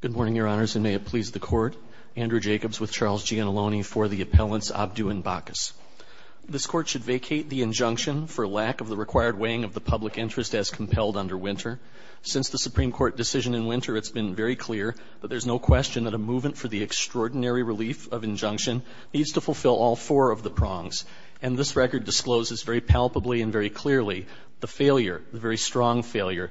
Good morning, Your Honors, and may it please the Court. Andrew Jacobs with Charles Giannulloni for the Appellants Abdou and Bacchus. This Court should vacate the injunction for lack of the required weighing of the public interest as compelled under Winter. Since the Supreme Court decision in Winter, it's been very clear that there's no question that a movement for the extraordinary relief of injunction needs to fulfill all four of the prongs, and this record discloses very palpably and very clearly the failure,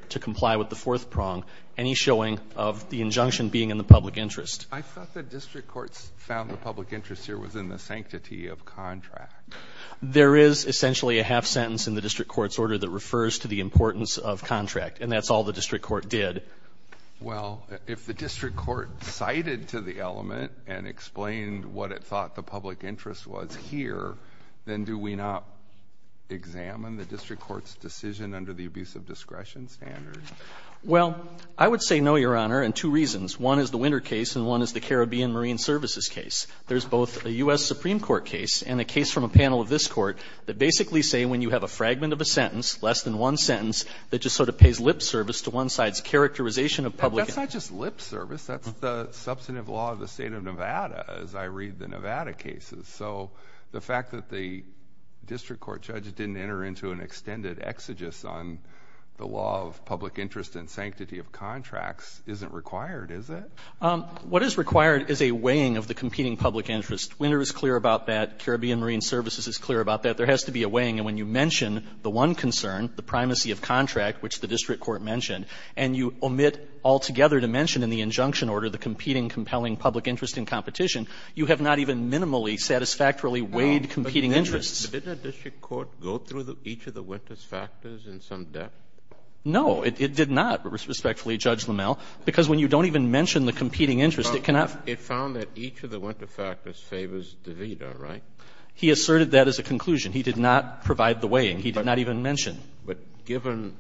to comply with the fourth prong, any showing of the injunction being in the public interest. I thought the District Court's found the public interest here was in the sanctity of contract. There is essentially a half sentence in the District Court's order that refers to the importance of contract, and that's all the District Court did. Well, if the District Court cited to the element and explained what it thought the public interest was here, then do we not examine the District Court's decision under the abuse of discretion standard? Well, I would say no, Your Honor, in two reasons. One is the Winter case, and one is the Caribbean Marine Services case. There's both a U.S. Supreme Court case and a case from a panel of this Court that basically say when you have a fragment of a sentence, less than one sentence, that just sort of pays lip service to one side's characterization of public interest. That's not just lip service. That's the substantive law of the State of Nevada, as I read the Nevada cases. So the fact that the District Court judge didn't enter into an extended exegesis on the law of public interest and sanctity of contracts isn't required, is it? What is required is a weighing of the competing public interest. Winter is clear about that. Caribbean Marine Services is clear about that. There has to be a weighing, and when you mention the one concern, the primacy of contract, which the District Court mentioned, and you omit altogether to mention in the injunction order the competing compelling public interest in competition, you have not even minimally, satisfactorily weighed competing interests. Did the District Court go through each of the Winter's factors in some depth? No. It did not, respectfully, Judge Lamel, because when you don't even mention the competing interest, it cannot. It found that each of the Winter factors favors DeVita, right? He asserted that as a conclusion. He did not provide the weighing. He did not even mention. But given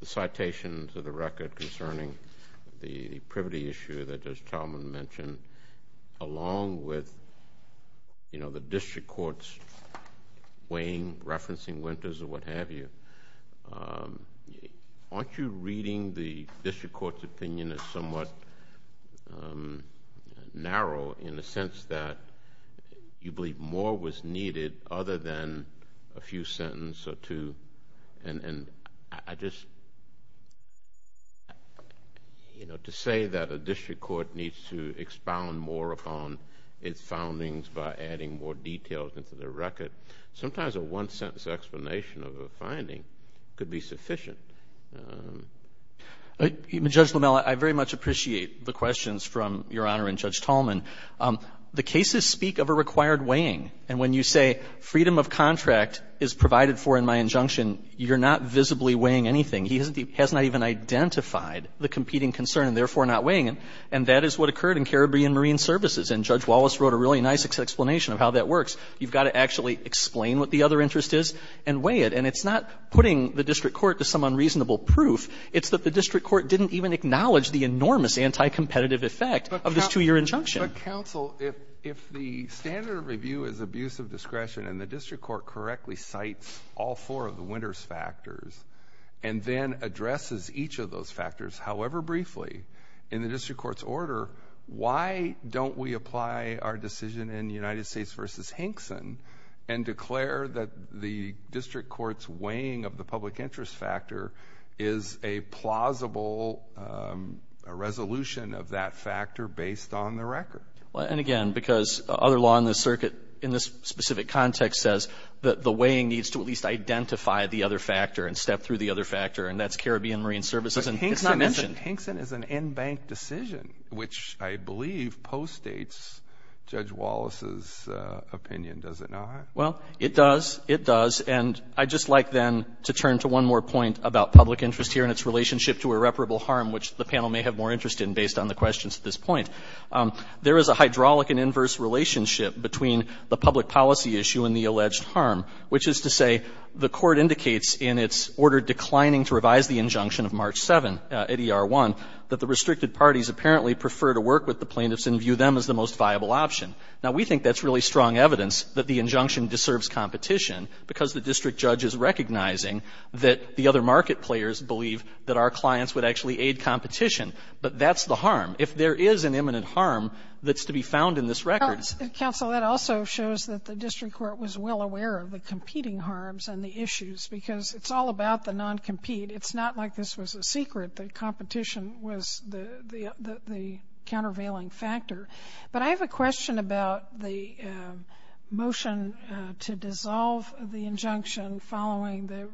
the citations of the record concerning the privity issue that Judge Talman mentioned, along with the District Court's weighing, referencing Winters, or what have you, aren't you reading the District Court's opinion as somewhat narrow in the sense that you believe more was needed other than a few sentences or two? And I just, you know, to say that a District Court needs to expound more upon its findings by adding more details into the record, sometimes a one-sentence explanation of a finding could be sufficient. Judge Lamel, I very much appreciate the questions from Your Honor and Judge Talman. The cases speak of a required weighing. And when you say freedom of contract is provided for in my injunction, you're not visibly weighing anything. He has not even identified the competing concern and, therefore, not weighing it. And that is what occurred in Caribbean Marine Services. And Judge Wallace wrote a really nice explanation of how that works. You've got to actually explain what the other interest is and weigh it. And it's not putting the District Court to some unreasonable proof. It's that the District Court didn't even acknowledge the enormous anti-competitive effect of this two-year injunction. But, counsel, if the standard of review is abuse of discretion and the District Court correctly cites all four of the winner's factors and then addresses each of those factors, however briefly, in the District Court's order, why don't we apply our decision in United States v. Hinkson and declare that the District Court's weighing of the public interest factor is a plausible resolution of that factor based on the record? Well, and, again, because other law in the circuit in this specific context says that the weighing needs to at least identify the other factor and step through the other factor. And that's Caribbean Marine Services. And it's not mentioned. But Hinkson is an in-bank decision, which I believe postdates Judge Wallace's opinion, does it not? Well, it does. It does. And I'd just like, then, to turn to one more point about public interest here and its relationship to irreparable harm, which the panel may have more interest in based on the questions at this point. There is a hydraulic and inverse relationship between the public policy issue and the alleged harm, which is to say the Court indicates in its order declining to revise the injunction of March 7 at ER-1 that the restricted parties apparently prefer to work with the plaintiffs and view them as the most viable option. Now, we think that's really strong evidence that the injunction deserves competition because the district judge is recognizing that the other market players believe that our clients would actually aid competition. But that's the harm. If there is an imminent harm, that's to be found in this record. Counsel, that also shows that the district court was well aware of the competing harms and the issues because it's all about the non-compete. It's not like this was a secret that competition was the countervailing factor. But I have a question about the motion to dissolve the injunction following the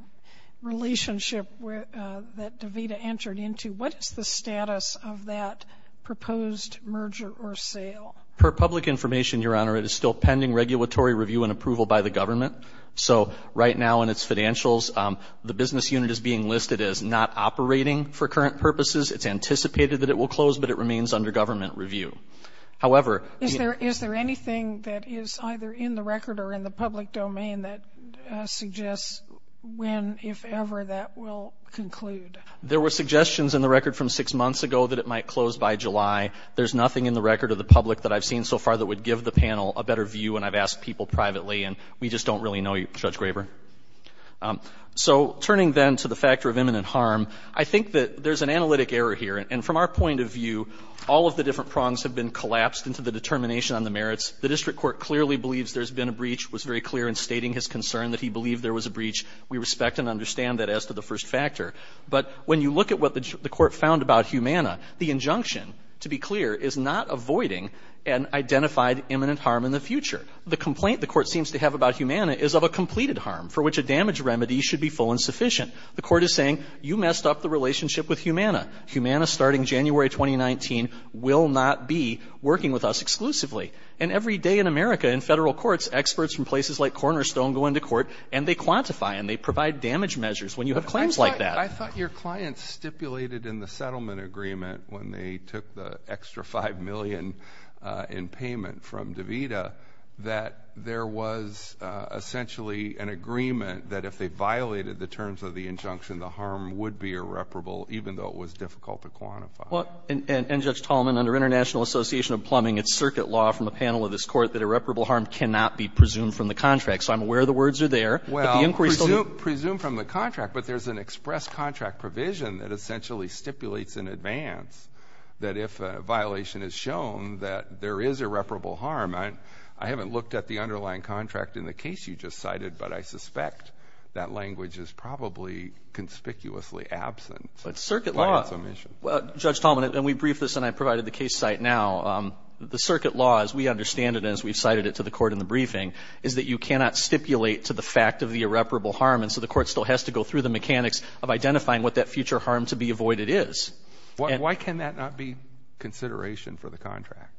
relationship that Devita entered into. What is the status of that proposed merger or sale? Per public information, Your Honor, it is still pending regulatory review and approval by the government. So right now in its financials, the business unit is being listed as not operating for current purposes. It's anticipated that it will close, but it remains under government review. However, Is there anything that is either in the record or in the public domain that suggests when, if ever, that will conclude? There were suggestions in the record from six months ago that it might close by July. There's nothing in the record of the public that I've seen so far that would give the panel a better view, and I've asked people privately, and we just don't really know, Judge Graber. So turning then to the factor of imminent harm, I think that there's an analytic error here. And from our point of view, all of the different prongs have been collapsed into the determination on the merits. The district court clearly believes there's been a breach, was very clear in stating his concern that he believed there was a breach. We respect and understand that as to the first factor. But when you look at what the court found about Humana, the injunction, to be clear, is not avoiding an identified imminent harm in the future. The complaint the court seems to have about Humana is of a completed harm, for which a damage remedy should be full and sufficient. The court is saying, you messed up the relationship with Humana. Humana, starting January 2019, will not be working with us exclusively. And every day in America, in federal courts, experts from places like Cornerstone go into court, and they quantify, and they provide damage measures when you have claims like that. I thought your client stipulated in the settlement agreement, when they took the extra $25 million in payment from DeVita, that there was essentially an agreement that if they violated the terms of the injunction, the harm would be irreparable, even though it was difficult to quantify. And, Judge Tallman, under International Association of Plumbing, it's circuit law from the panel of this court that irreparable harm cannot be presumed from the contract. So, I'm aware the words are there, but the inquiry still needs to be done. Well, presumed from the contract, but there's an express contract provision that essentially stipulates in advance that if a violation is shown, that there is irreparable harm. I haven't looked at the underlying contract in the case you just cited, but I suspect that language is probably conspicuously absent. But circuit law, Judge Tallman, and we briefed this, and I provided the case site now. The circuit law, as we understand it and as we've cited it to the court in the briefing, is that you cannot stipulate to the fact of the irreparable harm, and so the court still has to go through the mechanics of identifying what that future harm to be avoided is. Why can that not be consideration for the contract?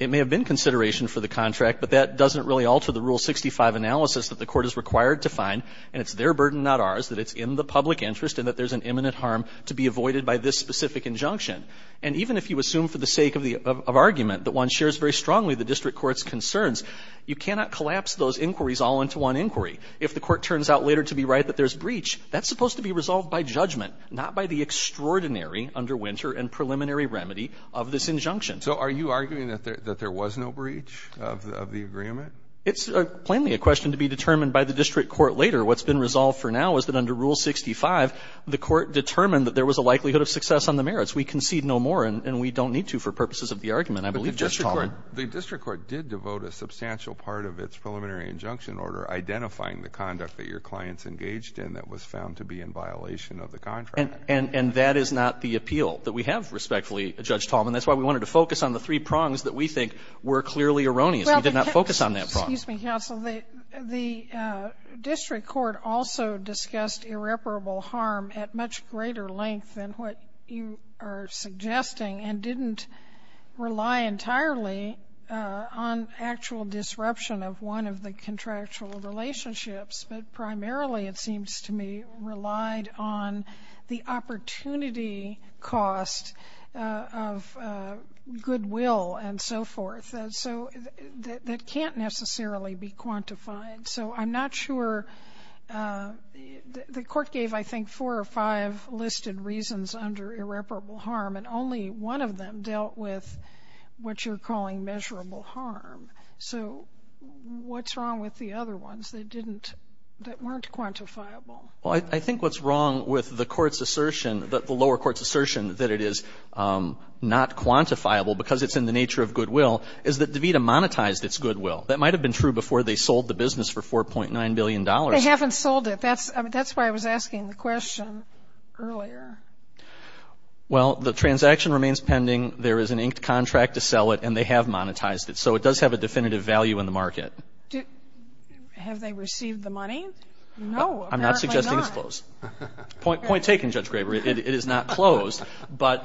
It may have been consideration for the contract, but that doesn't really alter the Rule 65 analysis that the court is required to find, and it's their burden, not ours, that it's in the public interest and that there's an imminent harm to be avoided by this specific injunction. And even if you assume for the sake of argument that one shares very strongly the district court's concerns, you cannot collapse those inquiries all into one inquiry. If the court turns out later to be right that there's breach, that's supposed to be resolved by judgment, not by the extraordinary under Winter and preliminary remedy of this injunction. So are you arguing that there was no breach of the agreement? It's plainly a question to be determined by the district court later. What's been resolved for now is that under Rule 65, the court determined that there was a likelihood of success on the merits. We concede no more, and we don't need to for purposes of the argument, I believe, Judge Tallman. But the district court did devote a substantial part of its preliminary injunction in order, identifying the conduct that your client's engaged in that was found to be in violation of the contract. And that is not the appeal that we have, respectfully, Judge Tallman. That's why we wanted to focus on the three prongs that we think were clearly erroneous. We did not focus on that prong. Well, excuse me, counsel. The district court also discussed irreparable harm at much greater length than what you are suggesting and didn't rely entirely on actual disruption of one of the contract relationships. But primarily, it seems to me, relied on the opportunity cost of goodwill and so forth that can't necessarily be quantified. So I'm not sure. The court gave, I think, four or five listed reasons under irreparable harm, and only one of them dealt with what you're calling measurable harm. So what's wrong with the other ones that weren't quantifiable? Well, I think what's wrong with the lower court's assertion that it is not quantifiable because it's in the nature of goodwill is that DeVita monetized its goodwill. That might have been true before they sold the business for $4.9 billion. They haven't sold it. That's why I was asking the question earlier. Well, the transaction remains pending. There is an inked contract to sell it, and they have monetized it. So it does have a definitive value in the market. Have they received the money? No, apparently not. I'm not suggesting it's closed. Point taken, Judge Graber. It is not closed. But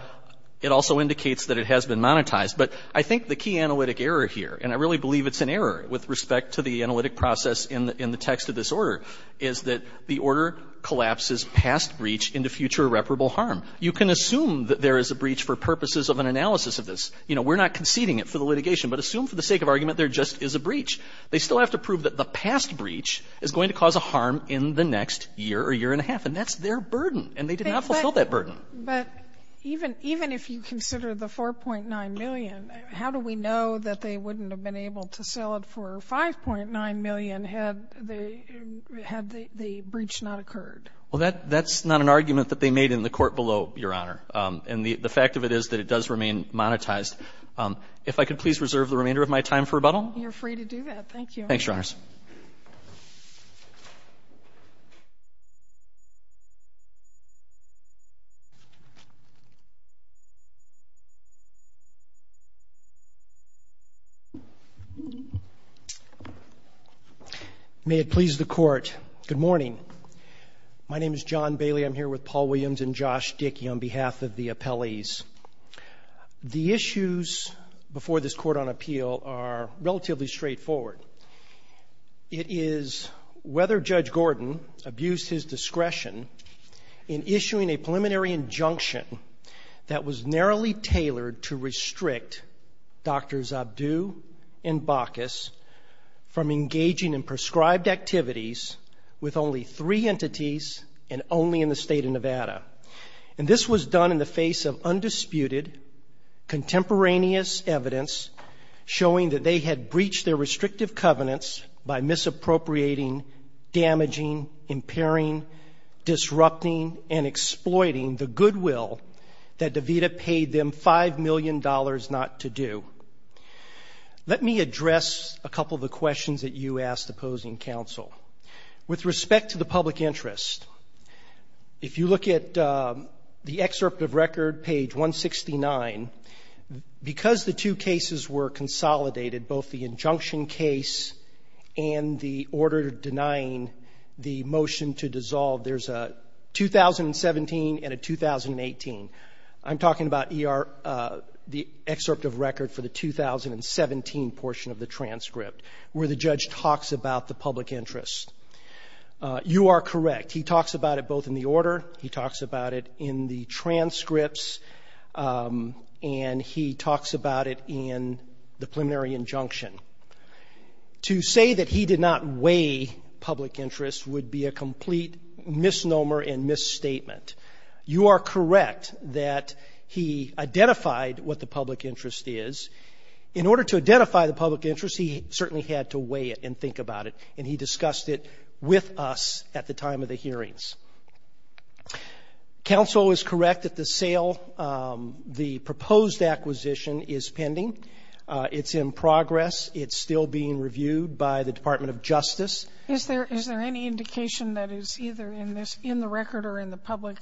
it also indicates that it has been monetized. But I think the key analytic error here, and I really believe it's an error with respect to the analytic process in the text of this order, is that the order collapses past breach into future irreparable harm. You can assume that there is a breach for purposes of an analysis of this. You know, we're not conceding it for the litigation, but assume for the sake of argument there just is a breach. They still have to prove that the past breach is going to cause a harm in the next year or year and a half. And that's their burden. And they did not fulfill that burden. But even if you consider the $4.9 million, how do we know that they wouldn't have been able to sell it for $5.9 million had the breach not occurred? Well, that's not an argument that they made in the court below, Your Honor. And the fact of it is that it does remain monetized. If I could please reserve the remainder of my time for rebuttal. You're free to do that. Thank you. Thanks, Your Honors. May it please the Court. Good morning. My name is John Bailey. I'm here with Paul Williams and Josh Dickey on behalf of the appellees. The issues before this Court on Appeal are relatively straightforward. It is whether Judge Gordon abused his discretion in issuing a preliminary injunction that was narrowly tailored to restrict Drs. and Baucus from engaging in prescribed activities with only three entities and only in the State of Nevada. And this was done in the face of undisputed contemporaneous evidence showing that they had breached their restrictive covenants by misappropriating, damaging, impairing, disrupting, and exploiting the goodwill that DeVita paid them $5 million not to do. Let me address a couple of the questions that you asked opposing counsel. With respect to the public interest, if you look at the excerpt of record, page 169, because the two cases were consolidated, both the injunction case and the order denying the motion to dissolve, there's a 2017 and a 2018. I'm talking about the excerpt of record for the 2017 portion of the transcript where the judge talks about the public interest. You are correct. He talks about it both in the order, he talks about it in the transcripts, and he talks about it in the preliminary injunction. To say that he did not weigh public interest would be a complete misnomer and misstatement. You are correct that he identified what the public interest is. In order to identify the public interest, he certainly had to weigh it and think about it, and he discussed it with us at the time of the hearings. Counsel is correct that the sale, the proposed acquisition is pending. It's in progress. It's still being reviewed by the Department of Justice. Is there any indication that is either in the record or in the public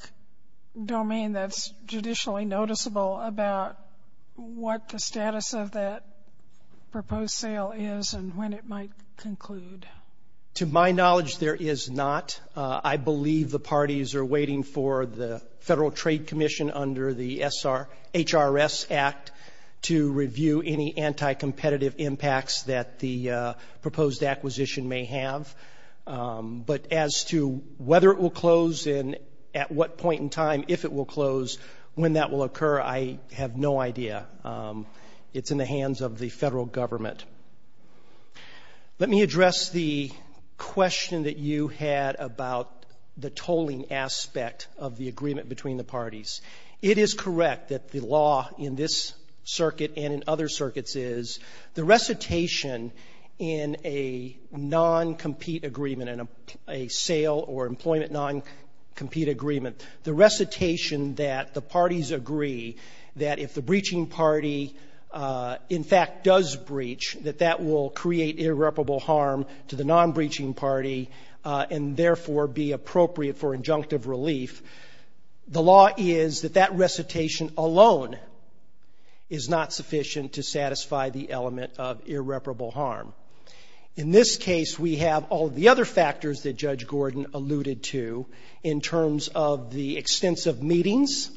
domain that's judicially noticeable about what the status of that proposed sale is and when it might conclude? To my knowledge, there is not. I believe the parties are waiting for the Federal Trade Commission under the HRS Act to review any anti-competitive impacts that the proposed acquisition may have. But as to whether it will close and at what point in time, if it will close, when that will occur, I have no idea. It's in the hands of the Federal Government. Let me address the question that you had about the tolling aspect of the agreement between the parties. It is correct that the law in this circuit and in other circuits is the recitation in a non-compete agreement, in a sale or employment non-compete agreement, the recitation that the parties agree that if the breaching party, in fact, does breach, that that will create irreparable harm to the non-breaching party and, therefore, be appropriate for injunctive relief. The law is that that recitation alone is not sufficient to satisfy the element of irreparable harm. In this case, we have all of the other factors that Judge Gordon alluded to in terms of the extensive meetings,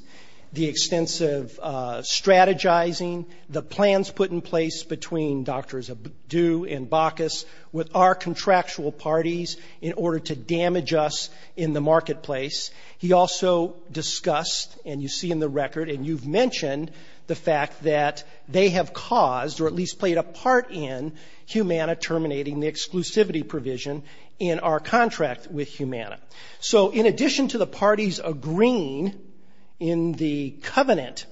the extensive strategizing, the plans put in place between Doctors Adu and Bacchus with our contractual parties in order to damage us in the marketplace. He also discussed, and you see in the record and you've mentioned, the fact that they have caused, or at least played a part in, Humana terminating the exclusivity provision in our contract with Humana. So in addition to the parties agreeing in the covenant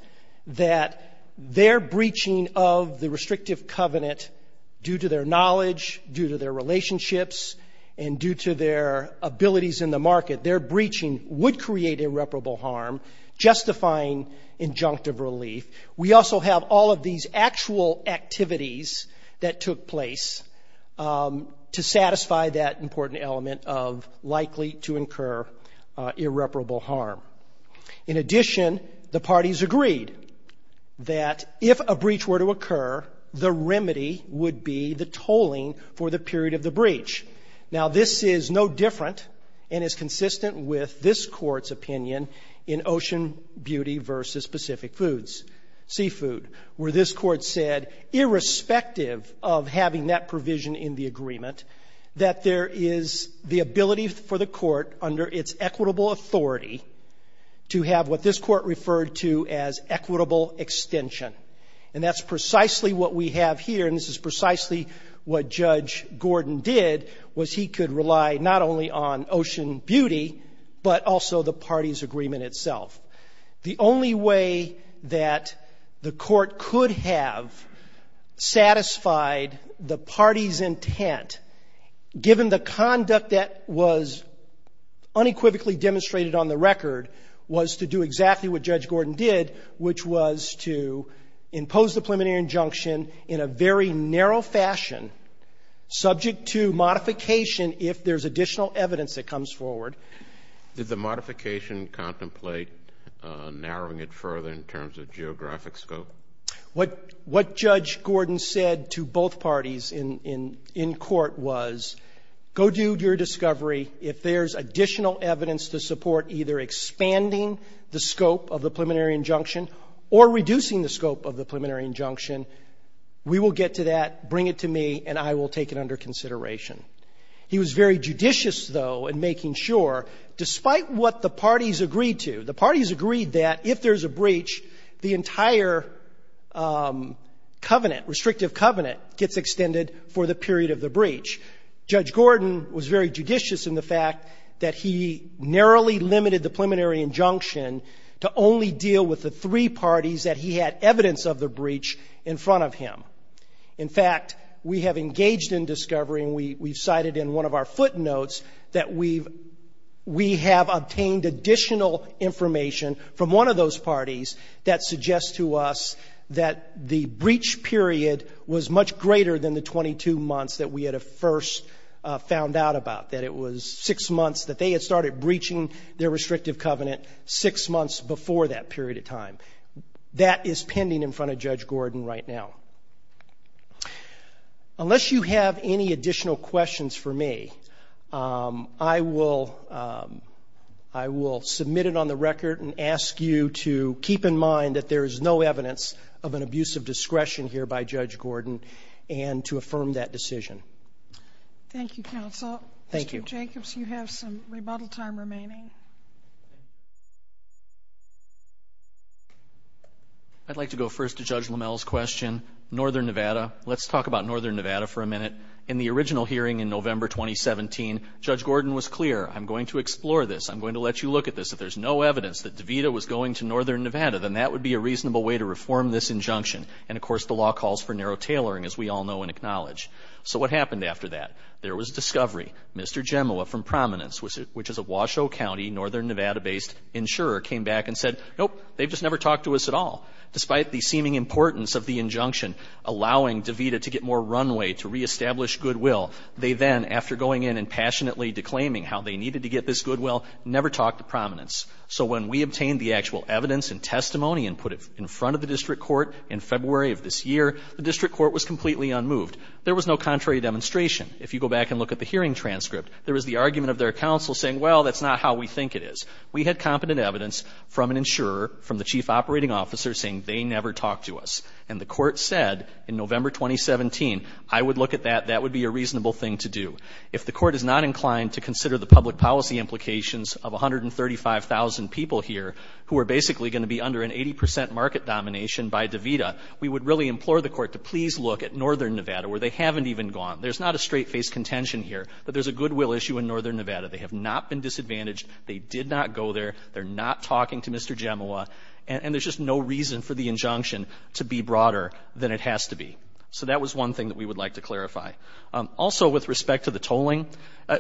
that their breaching of the restrictive covenant due to their knowledge, due to their relationships, and due to their abilities in the market, their breaching would create irreparable harm, justifying injunctive relief. We also have all of these actual activities that took place to satisfy that important element of likely to incur irreparable harm. In addition, the parties agreed that if a breach were to occur, the remedy would be the tolling for the period of the breach. Now, this is no different and is consistent with this Court's opinion in Ocean Beauty v. Pacific Seafood, where this Court said, irrespective of having that provision in the agreement, that there is the ability for the Court, under its equitable authority, to have what this Court referred to as equitable extension. And that's precisely what we have here, and this is precisely what Judge Gordon did, was he could rely not only on Ocean Beauty, but also the parties' agreement itself. The only way that the Court could have satisfied the parties' intent, given the conduct that was unequivocally demonstrated on the record, was to do exactly what Judge Gordon did, which was to impose the preliminary injunction in a very narrow fashion, subject to modification if there's additional evidence that comes forward. Did the modification contemplate narrowing it further in terms of geographic scope? What Judge Gordon said to both parties in court was, Go do your discovery. If there's additional evidence to support either expanding the scope of the preliminary injunction or reducing the scope of the preliminary injunction, we will get to that, bring it to me, and I will take it under consideration. He was very judicious, though, in making sure, despite what the parties agreed to. The parties agreed that if there's a breach, the entire covenant, restrictive covenant, gets extended for the period of the breach. Judge Gordon was very judicious in the fact that he narrowly limited the preliminary injunction to only deal with the three parties that he had evidence of the breach in front of him. In fact, we have engaged in discovering, we've cited in one of our footnotes, that we have obtained additional information from one of those parties that suggests to us that the breach period was much greater than the 22 months that we had first found out about, that it was six months that they had started breaching their restrictive covenant, six months before that period of time. That is pending in front of Judge Gordon right now. Unless you have any additional questions for me, I will submit it on the record and ask you to keep in mind that there is no evidence of an abuse of discretion here by Judge Gordon and to affirm that decision. Thank you, Counsel. Thank you. Mr. Jacobs, you have some rebuttal time remaining. I'd like to go first to Judge Lammel's question, Northern Nevada. Let's talk about Northern Nevada for a minute. In the original hearing in November 2017, Judge Gordon was clear, I'm going to explore this, I'm going to let you look at this. If there's no evidence that DeVita was going to Northern Nevada, then that would be a reasonable way to reform this injunction. And, of course, the law calls for narrow tailoring, as we all know and acknowledge. So what happened after that? There was a discovery. Mr. Gemowa from Prominence, which is a Washoe County, Northern Nevada-based insurer, came back and said, nope, they've just never talked to us at all. Despite the seeming importance of the injunction allowing DeVita to get more runway, to reestablish goodwill, they then, after going in and passionately declaiming how they needed to get this goodwill, never talked to Prominence. So when we obtained the actual evidence and testimony and put it in front of the district court in February of this year, the district court was completely unmoved. There was no contrary demonstration. If you go back and look at the hearing transcript, there was the argument of their counsel saying, well, that's not how we think it is. We had competent evidence from an insurer, from the chief operating officer, saying they never talked to us. And the court said in November 2017, I would look at that, that would be a reasonable thing to do. If the court is not inclined to consider the public policy implications of 135,000 people here who are basically going to be under an 80 percent market domination by DeVita, we would really implore the court to please look at northern Nevada, where they haven't even gone. There's not a straight-faced contention here that there's a goodwill issue in northern Nevada. They have not been disadvantaged. They did not go there. They're not talking to Mr. Gemowa. And there's just no reason for the injunction to be broader than it has to be. So that was one thing that we would like to clarify. Also, with respect to the tolling,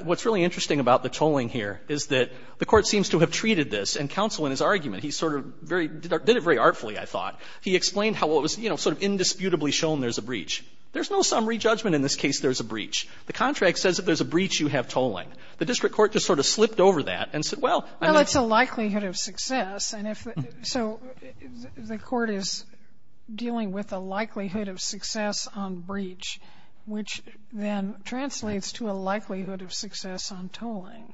what's really interesting about the tolling here is that the court seems to have treated this, and counsel in his argument, he sort of very, did it very artfully, I thought. He explained how it was, you know, sort of indisputably shown there's a breach. There's no summary judgment in this case there's a breach. The contract says if there's a breach, you have tolling. The district court just sort of slipped over that and said, well. Sotomayor. Well, it's a likelihood of success, and if the, so the court is dealing with a likelihood of success on breach, which then translates to a likelihood of success on tolling.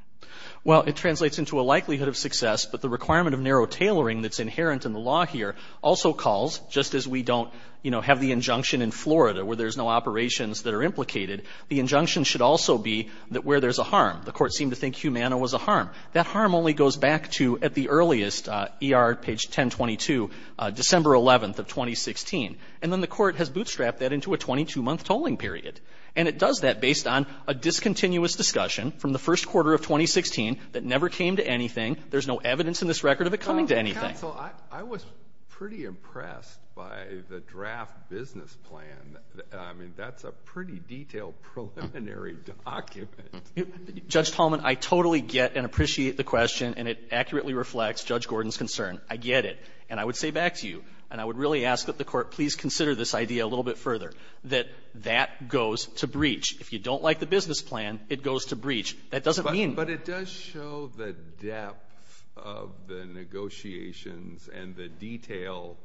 Well, it translates into a likelihood of success, but the requirement of narrow tailoring that's inherent in the law here also calls, just as we don't, you know, have the injunction in Florida where there's no operations that are implicated, the injunction should also be that where there's a harm. The court seemed to think Humana was a harm. That harm only goes back to, at the earliest, ER, page 1022, December 11th of 2016. And then the court has bootstrapped that into a 22-month tolling period. And it does that based on a discontinuous discussion from the first quarter of 2016 that never came to anything. There's no evidence in this record of it coming to anything. Counsel, I was pretty impressed by the draft business plan. I mean, that's a pretty detailed preliminary document. Judge Tallman, I totally get and appreciate the question, and it accurately reflects Judge Gordon's concern. I get it. And I would say back to you, and I would really ask that the Court please consider this idea a little bit further, that that goes to breach. If you don't like the business plan, it goes to breach. That doesn't mean... But it does show the depth of the negotiations and the detail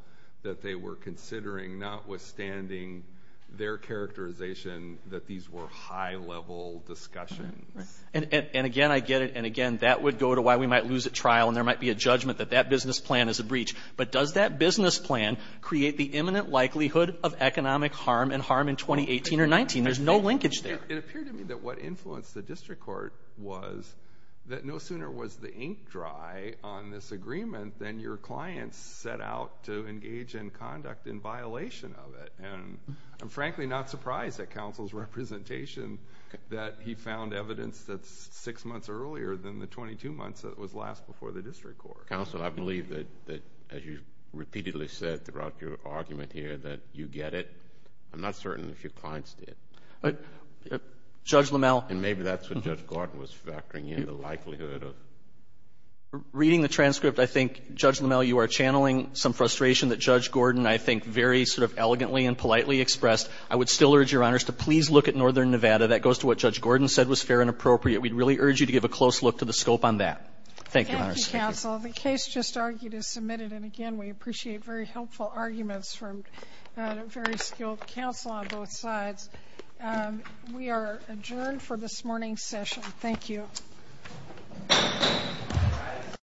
that they were considering, notwithstanding their characterization that these were high-level discussions. And, again, I get it. And, again, that would go to why we might lose at trial and there might be a judgment that that business plan is a breach. But does that business plan create the imminent likelihood of economic harm and harm in 2018 or 2019? There's no linkage there. It appeared to me that what influenced the district court was that no sooner was the ink dry on this agreement than your clients set out to engage in conduct in violation of it. And I'm frankly not surprised at counsel's representation that he found evidence that's six months earlier than the 22 months that was last before the district court. Counsel, I believe that, as you've repeatedly said throughout your argument here, that you get it. I'm not certain if your clients did. Judge Lamell. And maybe that's what Judge Gordon was factoring in, the likelihood of... Reading the transcript, I think, Judge Lamell, you are channeling some frustration that Judge Gordon, I think, very sort of elegantly and politely expressed. I would still urge Your Honors to please look at Northern Nevada. That goes to what Judge Gordon said was fair and appropriate. Thank you, Your Honors. Thank you, Counsel. The case just argued is submitted, and, again, we appreciate very helpful arguments from a very skilled counsel on both sides. We are adjourned for this morning's session. Thank you.